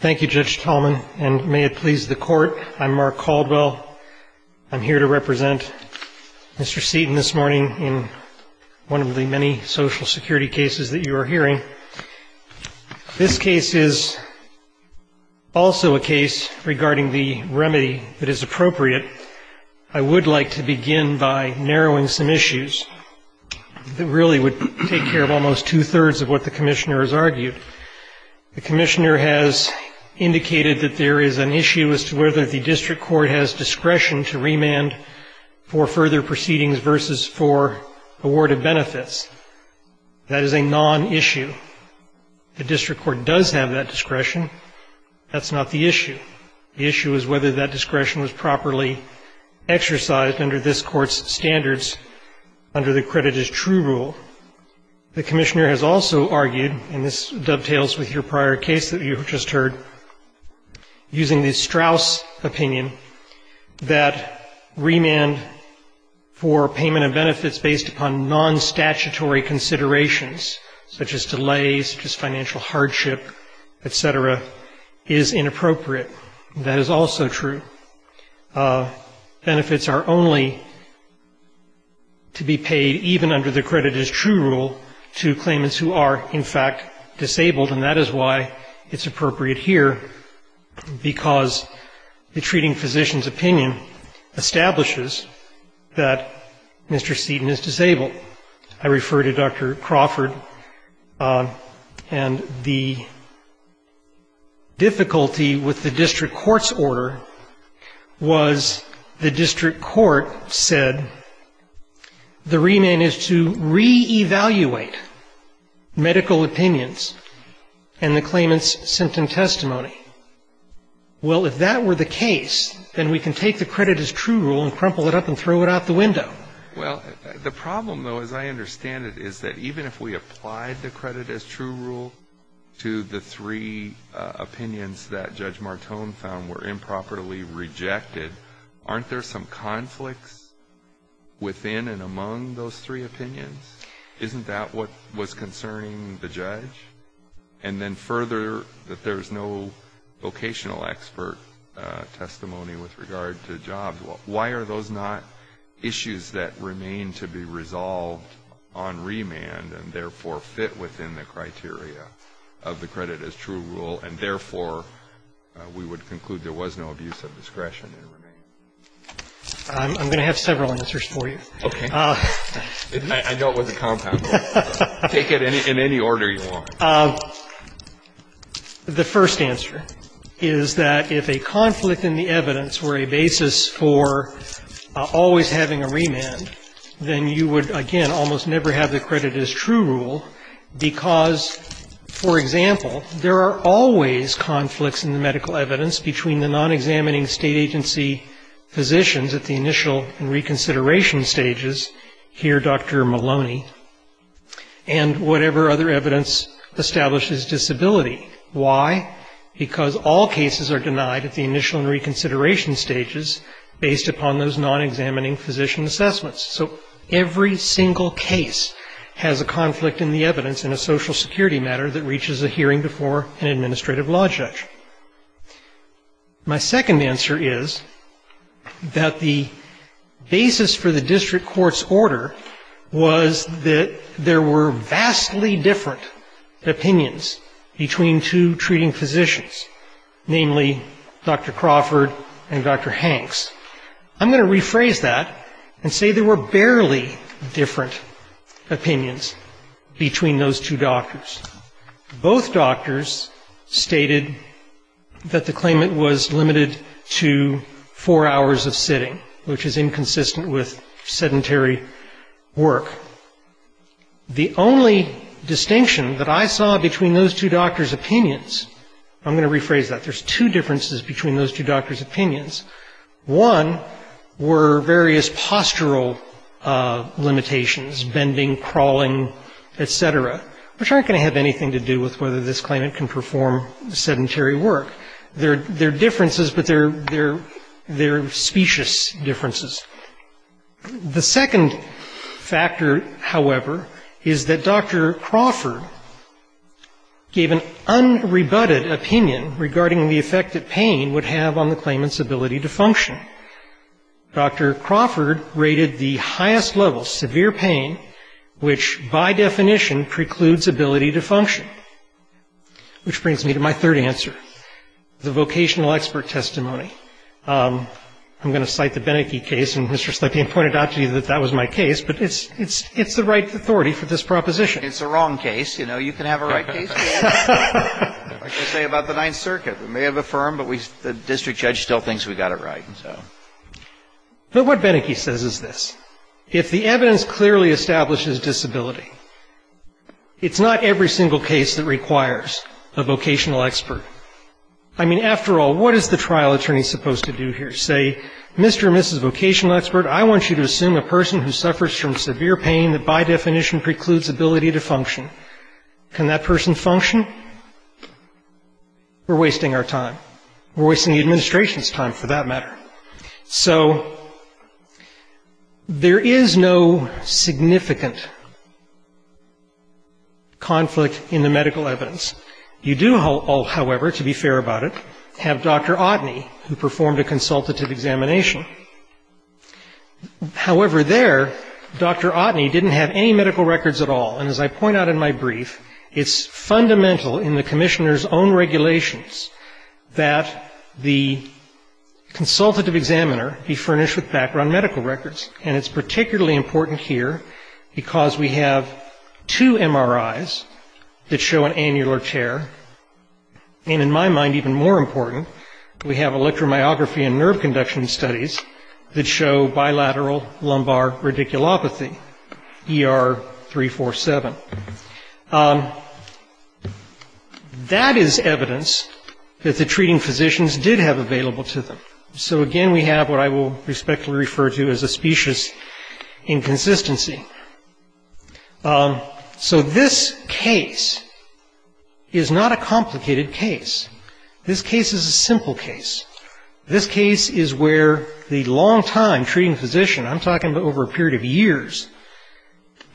Thank you, Judge Tallman, and may it please the Court, I'm Mark Caldwell. I'm here to represent Mr. Seaton this morning in one of the many Social Security cases that you are hearing. This case is also a case regarding the remedy that is appropriate. I would like to begin by narrowing some issues that really would take care of almost two-thirds of what the Commissioner has argued. The Commissioner has indicated that there is an issue as to whether the District Court has discretion to remand for further proceedings versus for award of benefits. That is a non-issue. The District Court does have that discretion. That's not the issue. The issue is whether that discretion was properly exercised under this Court's standards under the credit as true rule. The Commissioner has also argued, and this dovetails with your prior case that you just heard, using the Straus opinion, that remand for payment of benefits based upon non-statutory considerations, such as delays, such as financial hardship, et cetera, is inappropriate. That is also true. Benefits are only to be paid even under the credit as true rule to claimants who are, in fact, disabled. And that is why it's appropriate here, because the treating physician's opinion establishes that Mr. Seaton is disabled. I refer to Dr. Crawford, and the difficulty with the District Court's order was the District Court said the remand is to reevaluate medical opinions and the claimant's symptom testimony. Well, if that were the case, then we can take the credit as true rule and crumple it up and throw it out the window. Well, the problem, though, as I understand it, is that even if we applied the credit as true rule to the three opinions that Judge Martone found were improperly rejected, aren't there some conflicts within and among those three opinions? Isn't that what was concerning the judge? And then further, that there's no vocational expert testimony with regard to jobs. Well, why are those not issues that remain to be resolved on remand and, therefore, fit within the criteria of the credit as true rule, and, therefore, we would conclude there was no abuse of discretion in remand? I'm going to have several answers for you. Okay. I know it wasn't compound law, but take it in any order you want. The first answer is that if a conflict in the evidence were a basis for always having a remand, then you would, again, almost never have the credit as true rule because, for example, there are always conflicts in the medical evidence between the non-examining state agency physicians at the initial reconsideration stages, here Dr. Maloney, and whatever other evidence establishes disability. Why? Because all cases are denied at the initial reconsideration stages based upon those non-examining physician assessments. So every single case has a conflict in the evidence in a social security matter that reaches a hearing before an administrative law judge. My second answer is that the basis for the district court's order was that there were vastly different opinions between two treating physicians, namely Dr. Crawford and Dr. Hanks. I'm going to rephrase that and say there were barely different opinions between those two doctors. Both doctors stated that the claimant was limited to four hours of sitting, which is inconsistent with sedentary work. The only distinction that I saw between those two doctors' opinions — I'm going to rephrase that. There's two differences between those two doctors' opinions. One were various postural limitations, bending, crawling, et cetera, which aren't going to have anything to do with whether this claimant can perform sedentary work. They're differences, but they're specious differences. The second factor, however, is that Dr. Crawford gave an unrebutted opinion regarding the effect that pain would have on the claimant's ability to sit. Dr. Crawford rated the highest level, severe pain, which by definition precludes ability to function. Which brings me to my third answer, the vocational expert testimony. I'm going to cite the Beneke case, and Mr. Slepian pointed out to you that that was my case, but it's the right authority for this proposition. It's the wrong case. You know, you can have a right case. Like I say about the Ninth Circuit, we may have affirmed, but the district judge still thinks we got it right. But what Beneke says is this. If the evidence clearly establishes disability, it's not every single case that requires a vocational expert. I mean, after all, what is the trial attorney supposed to do here? Say, Mr. or Mrs. Vocational Expert, I want you to assume a person who suffers from severe pain that by definition precludes ability to function. Can that person function? We're wasting our time. We're wasting the administration's time, for that matter. So there is no significant conflict in the medical evidence. You do, however, to be fair about it, have Dr. Otteny, who performed a consultative examination. However, there, Dr. Otteny didn't have any medical records at all. And as I point out in my brief, it's fundamental in the commissioner's own regulations that the consultative examiner be furnished with background medical records. And it's particularly important here because we have two MRIs that show an annual or two MRIs. And we have two MRIs that show bilateral lumbar tear. And in my mind, even more important, we have electromyography and nerve conduction studies that show bilateral lumbar radiculopathy, ER 347. That is evidence that the treating physicians did have available to them. So again, we have what I will respectfully refer to as a specious inconsistency. This is not a complicated case. This case is a simple case. This case is where the longtime treating physician, I'm talking about over a period of years,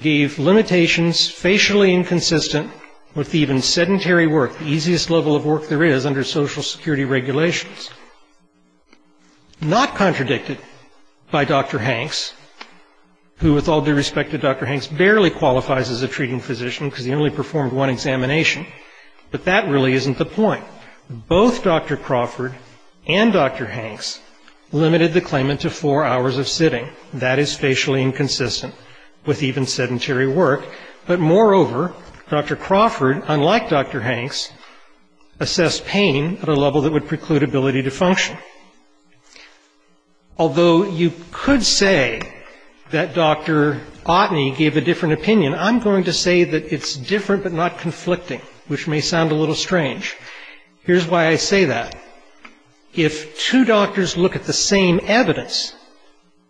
gave limitations facially inconsistent with even sedentary work, the easiest level of work there is under Social Security regulations. Not contradicted by Dr. Hanks, who, with all due respect to Dr. Hanks, barely qualifies as a treating physician because he only performed one examination. But that really isn't the point. Both Dr. Crawford and Dr. Hanks limited the claimant to four hours of sitting. That is facially inconsistent with even sedentary work. But moreover, Dr. Crawford, unlike Dr. Hanks, assessed pain at a level that would preclude ability to function. Although you could say that Dr. Otney gave a different opinion, I'm going to say that it's different but not conflicting, which may seem a little strange. Here's why I say that. If two doctors look at the same evidence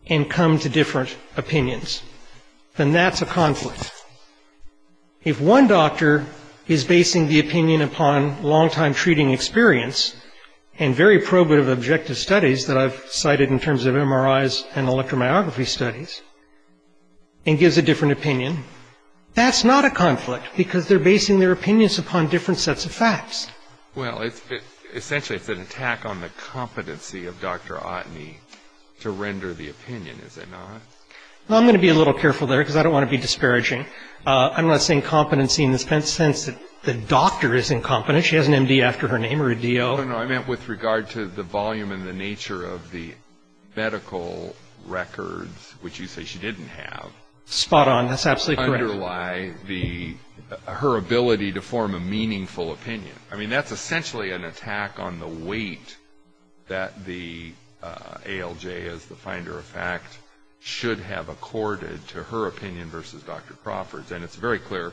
and come to different opinions, then that's a conflict. If one doctor is basing the opinion upon longtime treating experience and very probative objective studies that I've cited in terms of MRIs and electromyography studies and gives a different opinion, that's not a conflict because they're basing their opinions upon different sets of facts. Well, I'm going to be a little careful there because I don't want to be disparaging. I'm not saying competency in the sense that the doctor is incompetent. She has an MD after her name or a DO. No, I meant with regard to the volume and the nature of the medical records, which you say she didn't have. Spot on. That's absolutely correct. Underlie her ability to form a meaningful opinion. That's essentially an attack on the weight that the ALJ, as the finder of fact, should have accorded to her opinion versus Dr. Crawford's. And it's very clear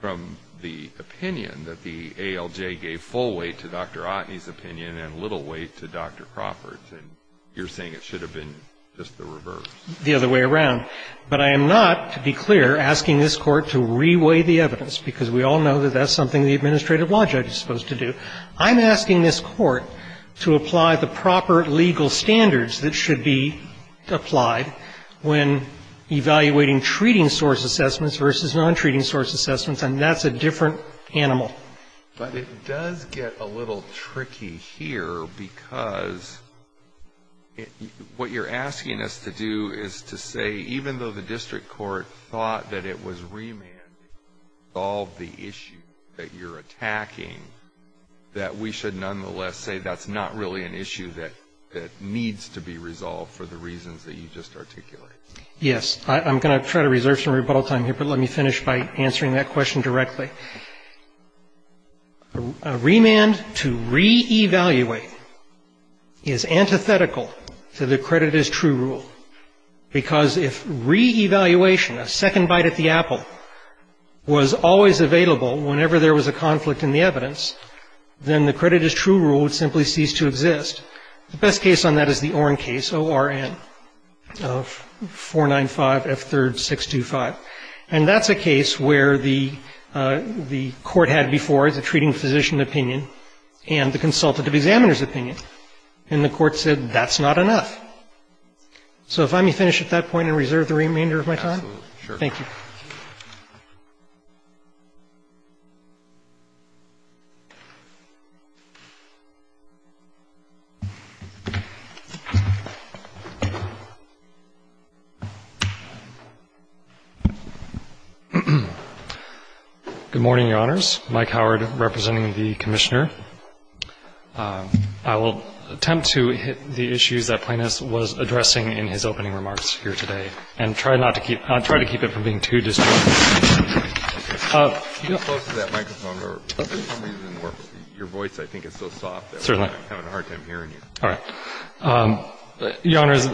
from the opinion that the ALJ gave full weight to Dr. Otney's opinion and little weight to Dr. Crawford's. And you're saying it should have been just the reverse. The other way around. But I am not, to be clear, asking this Court to reweigh the evidence, because we all know that that's something the administrative law judge is supposed to do. I'm asking this Court to apply the proper legal standards that should be applied when evaluating treating source assessments versus non-treating source assessments, and that's a different animal. But it does get a little tricky here, because what you're asking us to do is to say, even though the district court thought that it was remanded to resolve the issue that you're attacking, that we should nonetheless say that's not really an issue that needs to be resolved for the reasons that you just articulated. Yes. I'm going to try to reserve some rebuttal time here, but let me finish by answering that question directly. A remand to re-evaluate is antithetical to the credit as true rule, because if re-evaluation, a second bite at the apple, was always available whenever there was a conflict in the evidence, then the credit as true rule would simply cease to exist. The best case on that is the Oren case, O-R-N, of 495F3-625. And that's a case where the Court had before the treating physician opinion and the consultative examiner's opinion, and the Court said that's not enough. So if I may finish at that point and reserve the remainder of my time. Thank you. Good morning, Your Honors. Mike Howard, representing the Commissioner. I will attempt to hit the issues that Plaintiffs was addressing in his opening remarks here today, and try not to keep ‑‑ I'll try to keep it from being too disjointed. Can you get close to that microphone? For some reason, your voice, I think, is so soft that I'm having a hard time hearing you. All right. Your Honors,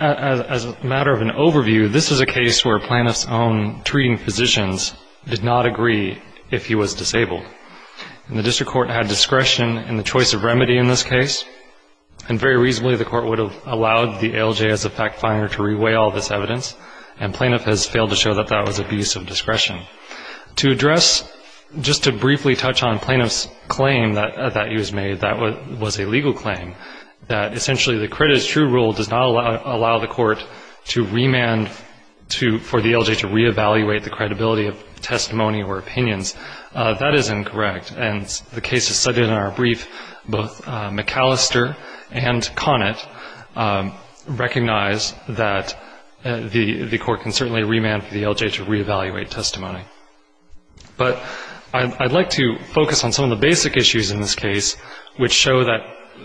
as a matter of an overview, this is a case where Plaintiff's own treating physicians did not agree if he was disabled. And the District Court had discretion in the choice of remedy in this case, and very reasonably, the Court would have allowed the ALJ as a fact-finder to re-weigh all this evidence. And Plaintiff has failed to show that that was abuse of discretion. To address, just to briefly touch on Plaintiff's claim that he was made, that was a legal claim, that essentially the credited true rule does not allow the Court to remand for the ALJ to re-evaluate the credibility of testimony or opinions. That is incorrect. And the cases studied in our brief, both McAllister and Connett, recognize that the Court can certainly remand for the ALJ to re-evaluate testimony. But I'd like to focus on some of the basic issues in this case, which show that,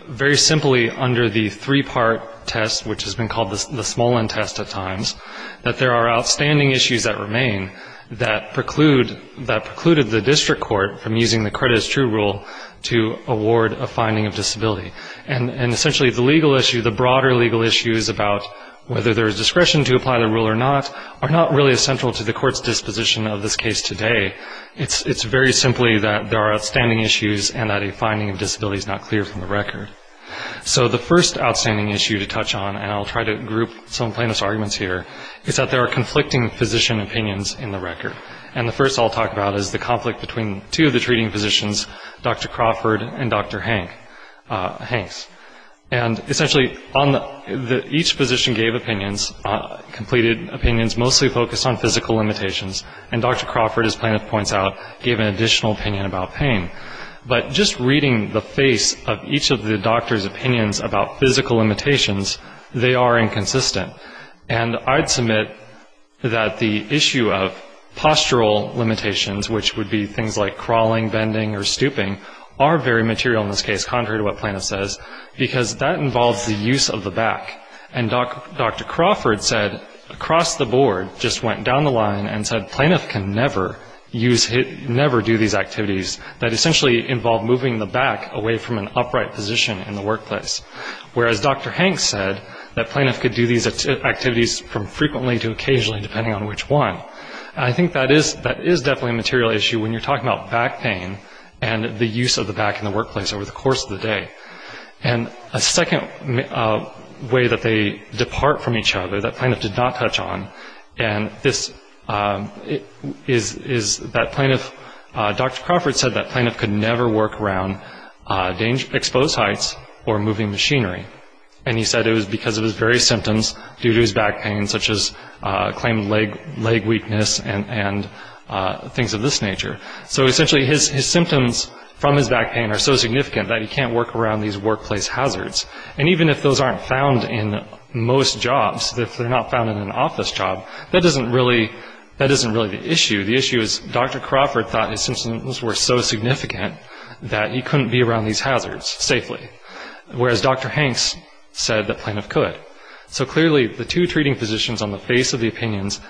very simply, under the three-part test, which has been called the small-end test at times, that there are outstanding issues that remain that preclude, that precluded the District Court from using the credited true rule to award a finding of disability. And essentially, the legal issue, the broader legal issue is about whether there is discretion to apply the rule or not, are not really as central to the Court's disposition of this case today. It's very simply that there are outstanding issues and that a finding of disability is not clear from the record. So the first outstanding issue to touch on, and I'll try to group some Plaintiff's arguments here, is that there are conflicting physician opinions in the record. And the first I'll talk about is the conflict between two of the treating physicians, Dr. Crawford and Dr. Hanks. And essentially, on the, each physician gave opinions, completed opinions, and then the court gave additional opinions, mostly focused on physical limitations, and Dr. Crawford, as Plaintiff points out, gave an additional opinion about pain. But just reading the face of each of the doctors' opinions about physical limitations, they are inconsistent. And I'd submit that the issue of postural limitations, which would be things like crawling, bending, or stooping, are very material in this case, contrary to what Plaintiff says, because that involves the use of the back. And Dr. Crawford said, across the board, just went down the line and said Plaintiff can never use, never do these activities that essentially involve moving the back away from an upright position in the workplace. Whereas Dr. Hanks said that Plaintiff could do these activities from frequently to occasionally, depending on which one. I think that is definitely a material issue when you're talking about the use of the back in the workplace over the course of the day. And a second way that they depart from each other that Plaintiff did not touch on, and this, is that Plaintiff, Dr. Crawford said that Plaintiff could never work around exposed heights or moving machinery. And he said it was because of his various symptoms due to his back pain, such as claimed leg weakness and things of this nature. So essentially, his symptoms due to his back pain are so significant that he can't work around these workplace hazards. And even if those aren't found in most jobs, if they're not found in an office job, that isn't really the issue. The issue is Dr. Crawford thought his symptoms were so significant that he couldn't be around these hazards safely. Whereas Dr. Hanks said that Plaintiff could. So clearly, the two treating physicians on the face of the world has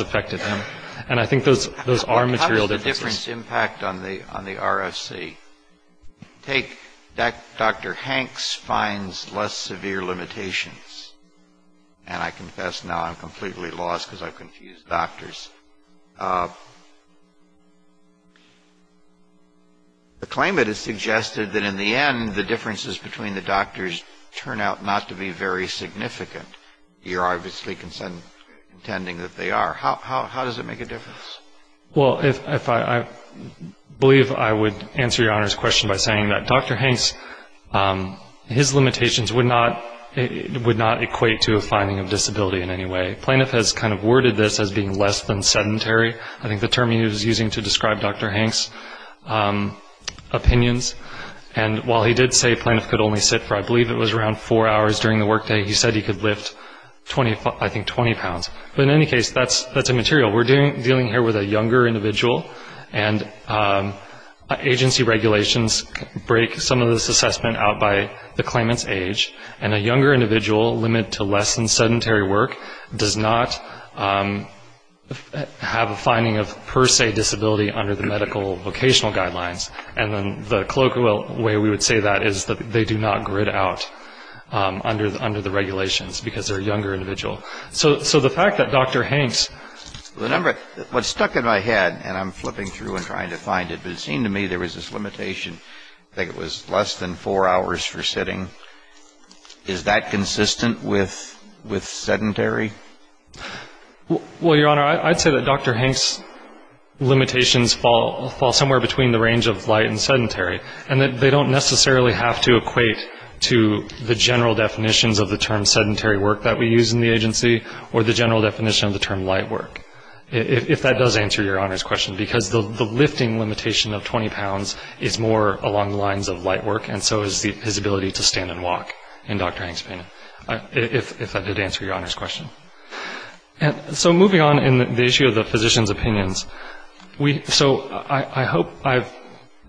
affected him. And I think those are material differences. How does the difference impact on the RFC? Take Dr. Hanks finds less severe limitations. And I confess now I'm completely lost because I've confused doctors. The claimant has suggested that in the end, the differences between the doctors turn out not to be very significant. You're obviously intending that they are. How does it make a difference? Well, I believe I would answer Your Honor's question by saying that Dr. Hanks, his limitations would not equate to a finding of disability in any way. Plaintiff has kind of worded this as being less than sedentary. I think the term he was using to describe Dr. Hanks' opinions. And while he did say he was around 24, I believe it was around four hours during the workday, he said he could lift, I think, 20 pounds. But in any case, that's a material. We're dealing here with a younger individual. And agency regulations break some of this assessment out by the claimant's age. And a younger individual, limited to less than sedentary work, does not have a finding of per se disability under the medical vocational guidelines. And the colloquial way we would say that is that they do not grid out under the regulations, because they're a younger individual. So the fact that Dr. Hanks... What stuck in my head, and I'm flipping through and trying to find it, but it seemed to me there was this limitation. I think it was less than four hours for sitting. Is that consistent with sedentary? Well, Your Honor, I'd say that Dr. Hanks' limitations fall somewhere between the range of light and sedentary, and that they don't necessarily have to equate to the general definitions of the term sedentary work that we use in the agency, or the general definition of the term light work, if that does answer Your Honor's question. Because the lifting limitation of 20 pounds is more along the lines of light work, and so is his ability to stand and walk in Dr. Hanks' opinion, if that did answer Your Honor's question. And so moving on in the issue of the physician's opinions, so I hope I've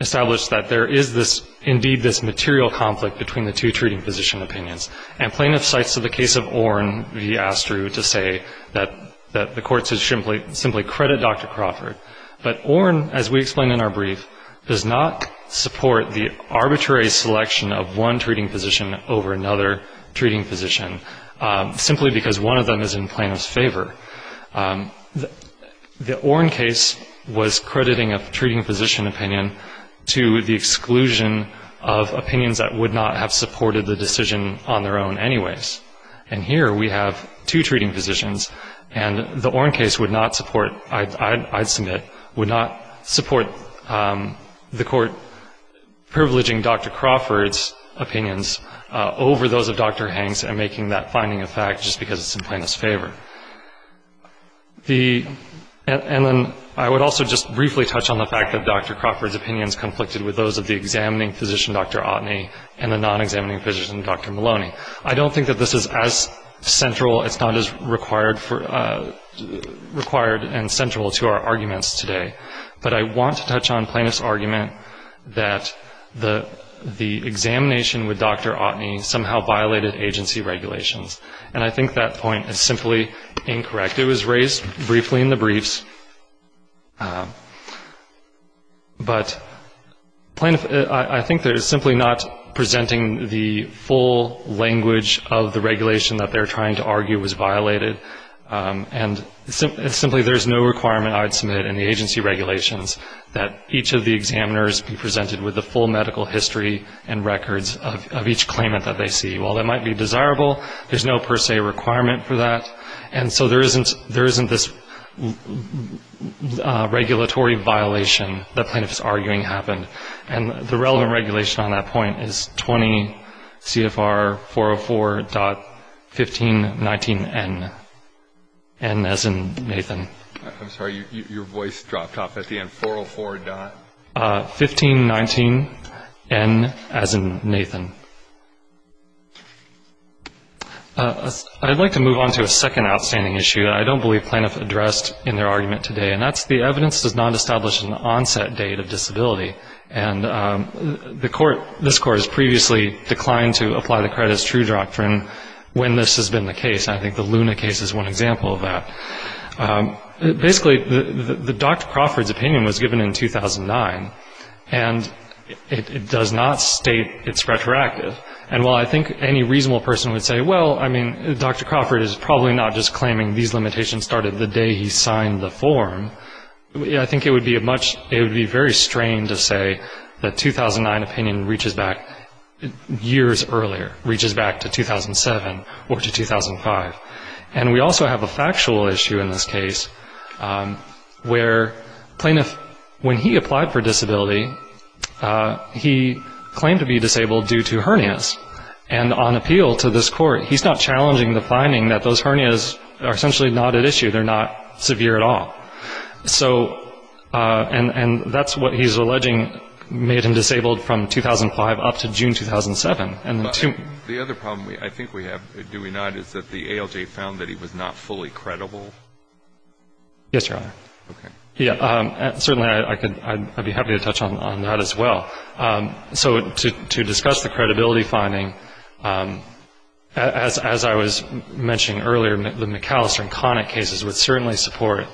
established that there is indeed this material conflict between the two treating physician opinions. And plaintiff cites the case of Orne v. Astrew to say that the court should simply credit Dr. Crawford. But Orne, as we explain in our brief, does not support the arbitrary selection of one treating physician over another treating physician, simply because one of them is in plaintiff's favor. The Orne case was crediting a treating physician opinion to the exclusion of opinions that would not have supported the decision on their own anyways. And here we have two treating physicians, and the Orne case would not support, I'd submit, would not support the court privileging Dr. Crawford's opinions over those of Dr. Hanks, and making that finding a fact just because it's in plaintiff's favor. The Orne case would not support the exclusion of opinions over those of Dr. Hanks, and making that finding a fact just because it's in plaintiff's favor. And then I would also just briefly touch on the fact that Dr. Crawford's opinion is conflicted with those of the examining physician, Dr. Ottney, and the non-examining physician, Dr. Maloney. I don't think that this is as central, it's not as required and central to our arguments today. But I want to touch on plaintiff's argument that the examination with Dr. Ottney somehow violated agency regulations. And I think that point is simply wrong. I think that point is simply incorrect. It was raised briefly in the briefs. But plaintiff, I think they're simply not presenting the full language of the regulation that they're trying to argue was violated. And simply there's no requirement, I would submit, in the agency regulations that each of the examiners be presented with the full medical history and records of each claimant that they see. While that might be desirable, there's no per se requirement for that. And so there isn't this regulatory violation that plaintiff's arguing happened. And the relevant regulation on that point is 20 CFR 404.1519N, N as in Nathan. I'm sorry, your voice dropped off at the end. 404. 1519N as in Nathan. I'd like to move on to a second outstanding issue that I don't believe plaintiff addressed in their argument today. And that's the evidence does not establish an onset date of disability. And the court, this court has previously declined to apply the credit as true doctrine when this has been the case. And I think the Luna case is one example of that. Basically, Dr. Crawford's opinion was given in 2009. And it does not state it's retroactive. And while I think any reasonable person would say, well, I mean, Dr. Crawford is probably not just claiming these limitations started the day he signed the form, I think it would be very strained to say that 2009 opinion reaches back years earlier, reaches back to 2007 or to 2005. And we also have a factual issue in this case where plaintiff, when he applied for disability, he claimed to be disabled due to hernias. And on appeal to this court, he's not challenging the finding that those hernias are essentially not at issue. They're not severe at all. So, and that's what he's alleging made him disabled from 2005 up to June 2007. And the other problem I think we have, do we not, is that the ALJ found that he was not fully credible? Yes, Your Honor. Okay. Yeah, certainly I'd be happy to touch on that as well. So to discuss the credibility finding, as I was mentioning earlier, the McAllister and Connick cases would certainly support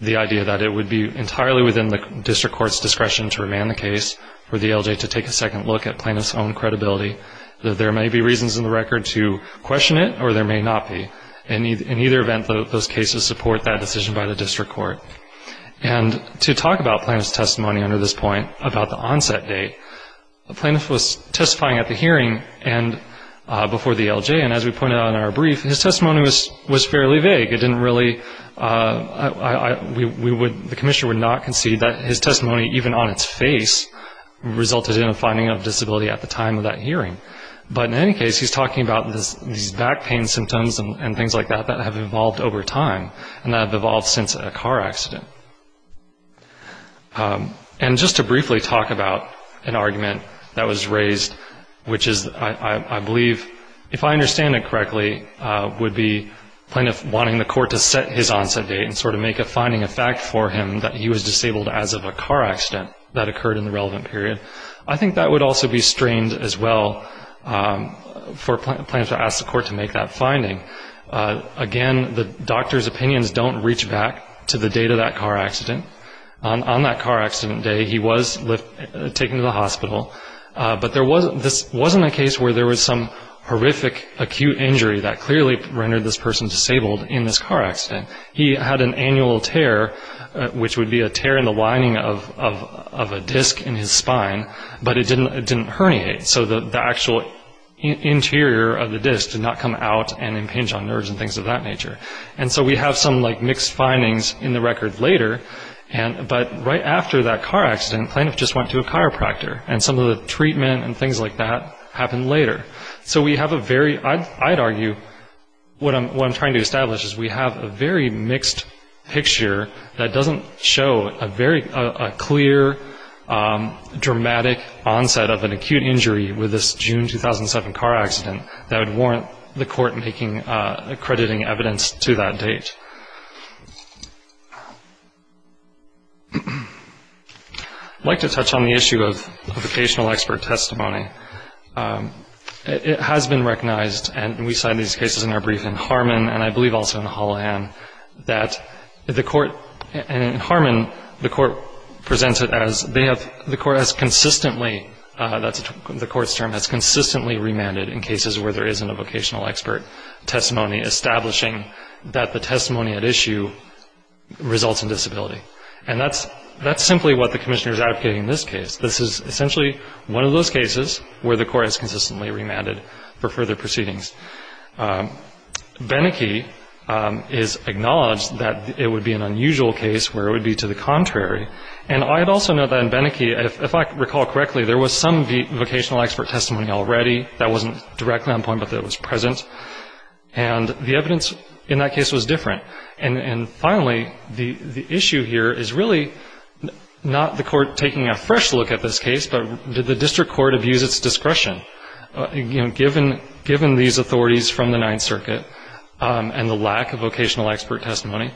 the idea that it would be entirely within the district court's discretion to remand the case for the ALJ to take a second look at plaintiff's own credibility, that there may be reasons in the record to question it or there may not be. In either event, those cases support that decision by the district court. And to talk about plaintiff's testimony under this point, about the onset date, the plaintiff was testifying at the hearing and before the ALJ, and as we pointed out in our brief, his testimony was fairly vague. It didn't really, we would, the commissioner would not concede that his testimony, even on its face, resulted in a finding of disability at the time of that hearing. But in any case, he's talking about these back pain symptoms and things like that that have evolved over time and that have evolved since a car accident. And just to briefly talk about an argument that was raised, which is, I believe, if I understand it correctly, would be plaintiff wanting the court to set his onset date and sort of make a finding of fact for him that he was disabled as of a car accident that he was in, for plaintiff to ask the court to make that finding. Again, the doctor's opinions don't reach back to the date of that car accident. On that car accident day, he was taken to the hospital, but there wasn't, this wasn't a case where there was some horrific acute injury that clearly rendered this person disabled in this car accident. He had an annual tear, which would be a tear in the lining of a car, and he had a herniate, so the actual interior of the disc did not come out and impinge on nerves and things of that nature. And so we have some, like, mixed findings in the record later, but right after that car accident, plaintiff just went to a chiropractor, and some of the treatment and things like that happened later. So we have a very, I'd argue, what I'm trying to establish is we have a very mixed picture that doesn't show a very, a clear, dramatic onset of an acute injury. With this June 2007 car accident, that would warrant the court making, accrediting evidence to that date. I'd like to touch on the issue of vocational expert testimony. It has been recognized, and we cite these cases in our brief in Harmon, and I believe also in Hallahan, that the court, in Harmon, the court presented as, they have, the court has consistently, that's a very broad term, the court's term, has consistently remanded in cases where there isn't a vocational expert testimony, establishing that the testimony at issue results in disability. And that's simply what the commissioner is advocating in this case. This is essentially one of those cases where the court has consistently remanded for further proceedings. Beneke is acknowledged that it would be an unusual case where it would be to the contrary, and I'd also note that in Beneke, if I recall correctly, there was already vocational expert testimony already. That wasn't directly on point, but it was present, and the evidence in that case was different. And finally, the issue here is really not the court taking a fresh look at this case, but did the district court abuse its discretion? You know, given these authorities from the Ninth Circuit and the lack of vocational expert testimony,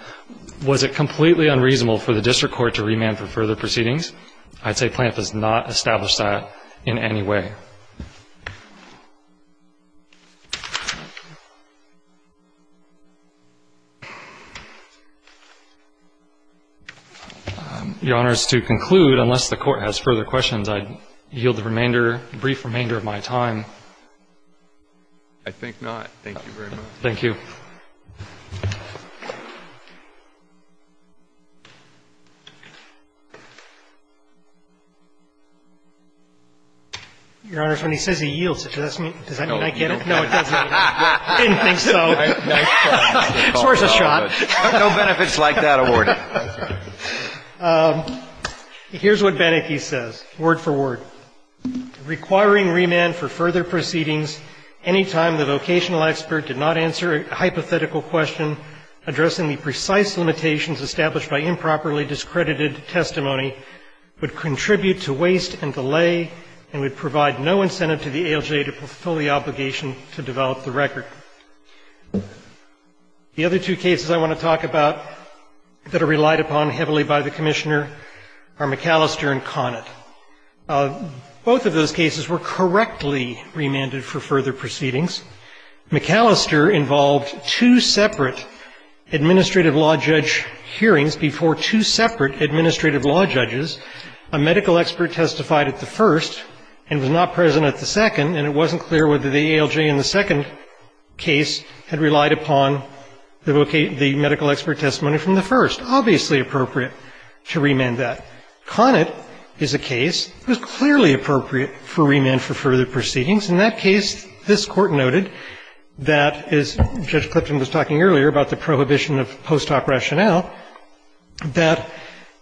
was it completely unreasonable for the district court to remand for further proceedings? I'd say PLANF has not in any way. Your Honor, as to conclude, unless the Court has further questions, I yield the remainder, brief remainder of my time. I think not. Thank you very much. Thank you. Your Honor, when he says he yields it, does that mean I get it? No, it doesn't. I didn't think so. So there's a shot. No benefits like that awarded. Here's what Beneke says, word for word. The other two cases I want to talk about that are relied upon heavily by the Commissioner are McAllister and Conant. Both of those cases were correctly remanded for further proceedings. McAllister involved two separate administrative law judge hearings before two separate administrative law judges. A medical expert testified at the first and was not present at the second, and it wasn't clear whether the ALJ in the second case had relied upon the medical expert testimony from the first. Obviously appropriate to remand that. Conant is a case that was clearly appropriate for remand for further proceedings. In that case, this Court noted that, as Judge Clipton was talking earlier about the prohibition of post-op rationale, that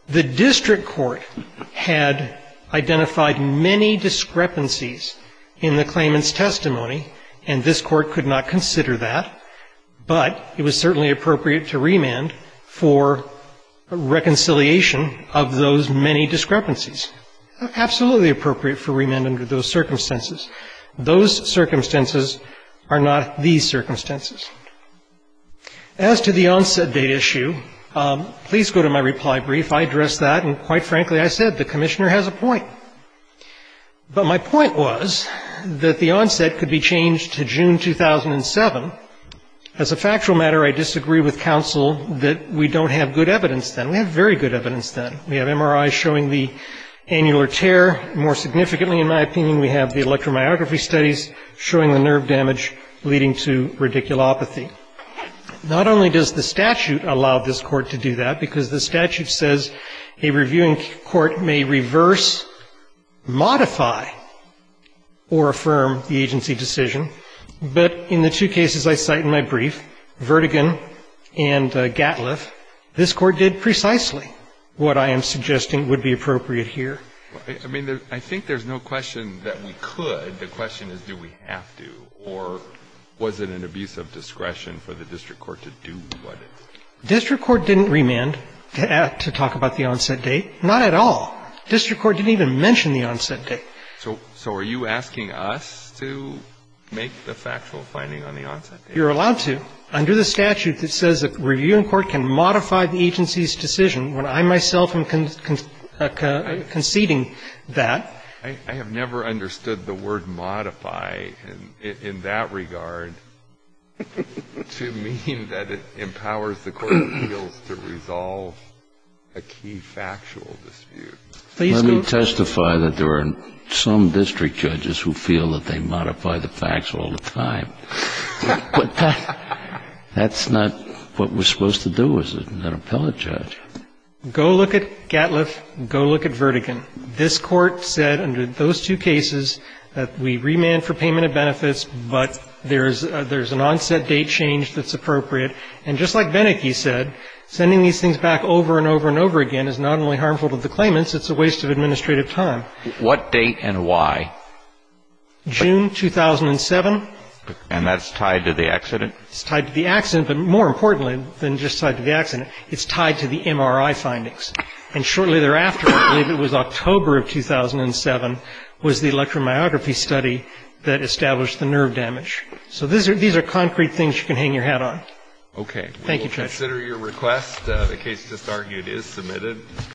the district court had identified many discrepancies in the claimant's testimony, and this Court could not consider that, but it was certainly appropriate to remand for reconciliation of those many discrepancies. Absolutely appropriate for remand under those circumstances. Those circumstances are not these circumstances. As to the onset date issue, please go to my reply brief. I addressed that, and quite frankly, I said, the Commissioner has a point. But my point was that the onset could be changed to June 2007. As a factual matter, I disagree with counsel that we don't have good evidence then. We have very good evidence then. We have MRIs showing the annular tear. More significantly, in my opinion, we have the electromyography studies showing the nerve damage leading to radiculopathy. Not only does the statute allow this court to do that, because the statute says a reviewing court may reverse, modify, or affirm the agency decision, but in the two cases I cite in my brief, Vertigan and Gatliff, this Court did precisely what I asked. And I'm suggesting it would be appropriate here. I mean, I think there's no question that we could. The question is, do we have to? Or was it an abuse of discretion for the district court to do what it is? District court didn't remand to talk about the onset date, not at all. District court didn't even mention the onset date. So are you asking us to make the factual finding on the onset date? You're allowed to, under the statute that says a reviewing court can modify the agency's decision when I myself am concerned conceding that. I have never understood the word modify in that regard to mean that it empowers the court appeals to resolve a key factual dispute. Let me testify that there are some district judges who feel that they modify the facts all the time. But that's not what we're supposed to do, is it, an appellate judge? Go look at Gatliff. Go look at Vertigan. This Court said under those two cases that we remand for payment of benefits, but there's an onset date change that's appropriate. And just like Venicky said, sending these things back over and over and over again is not only harmful to the claimants, it's a waste of administrative time. What date and why? June 2007. And that's tied to the accident? It's tied to the accident, but more importantly than just tied to the accident, it's tied to the MRI findings. And shortly thereafter, I believe it was October of 2007, was the electromyography study that established the nerve damage. So these are concrete things you can hang your hat on. Thank you, Judge.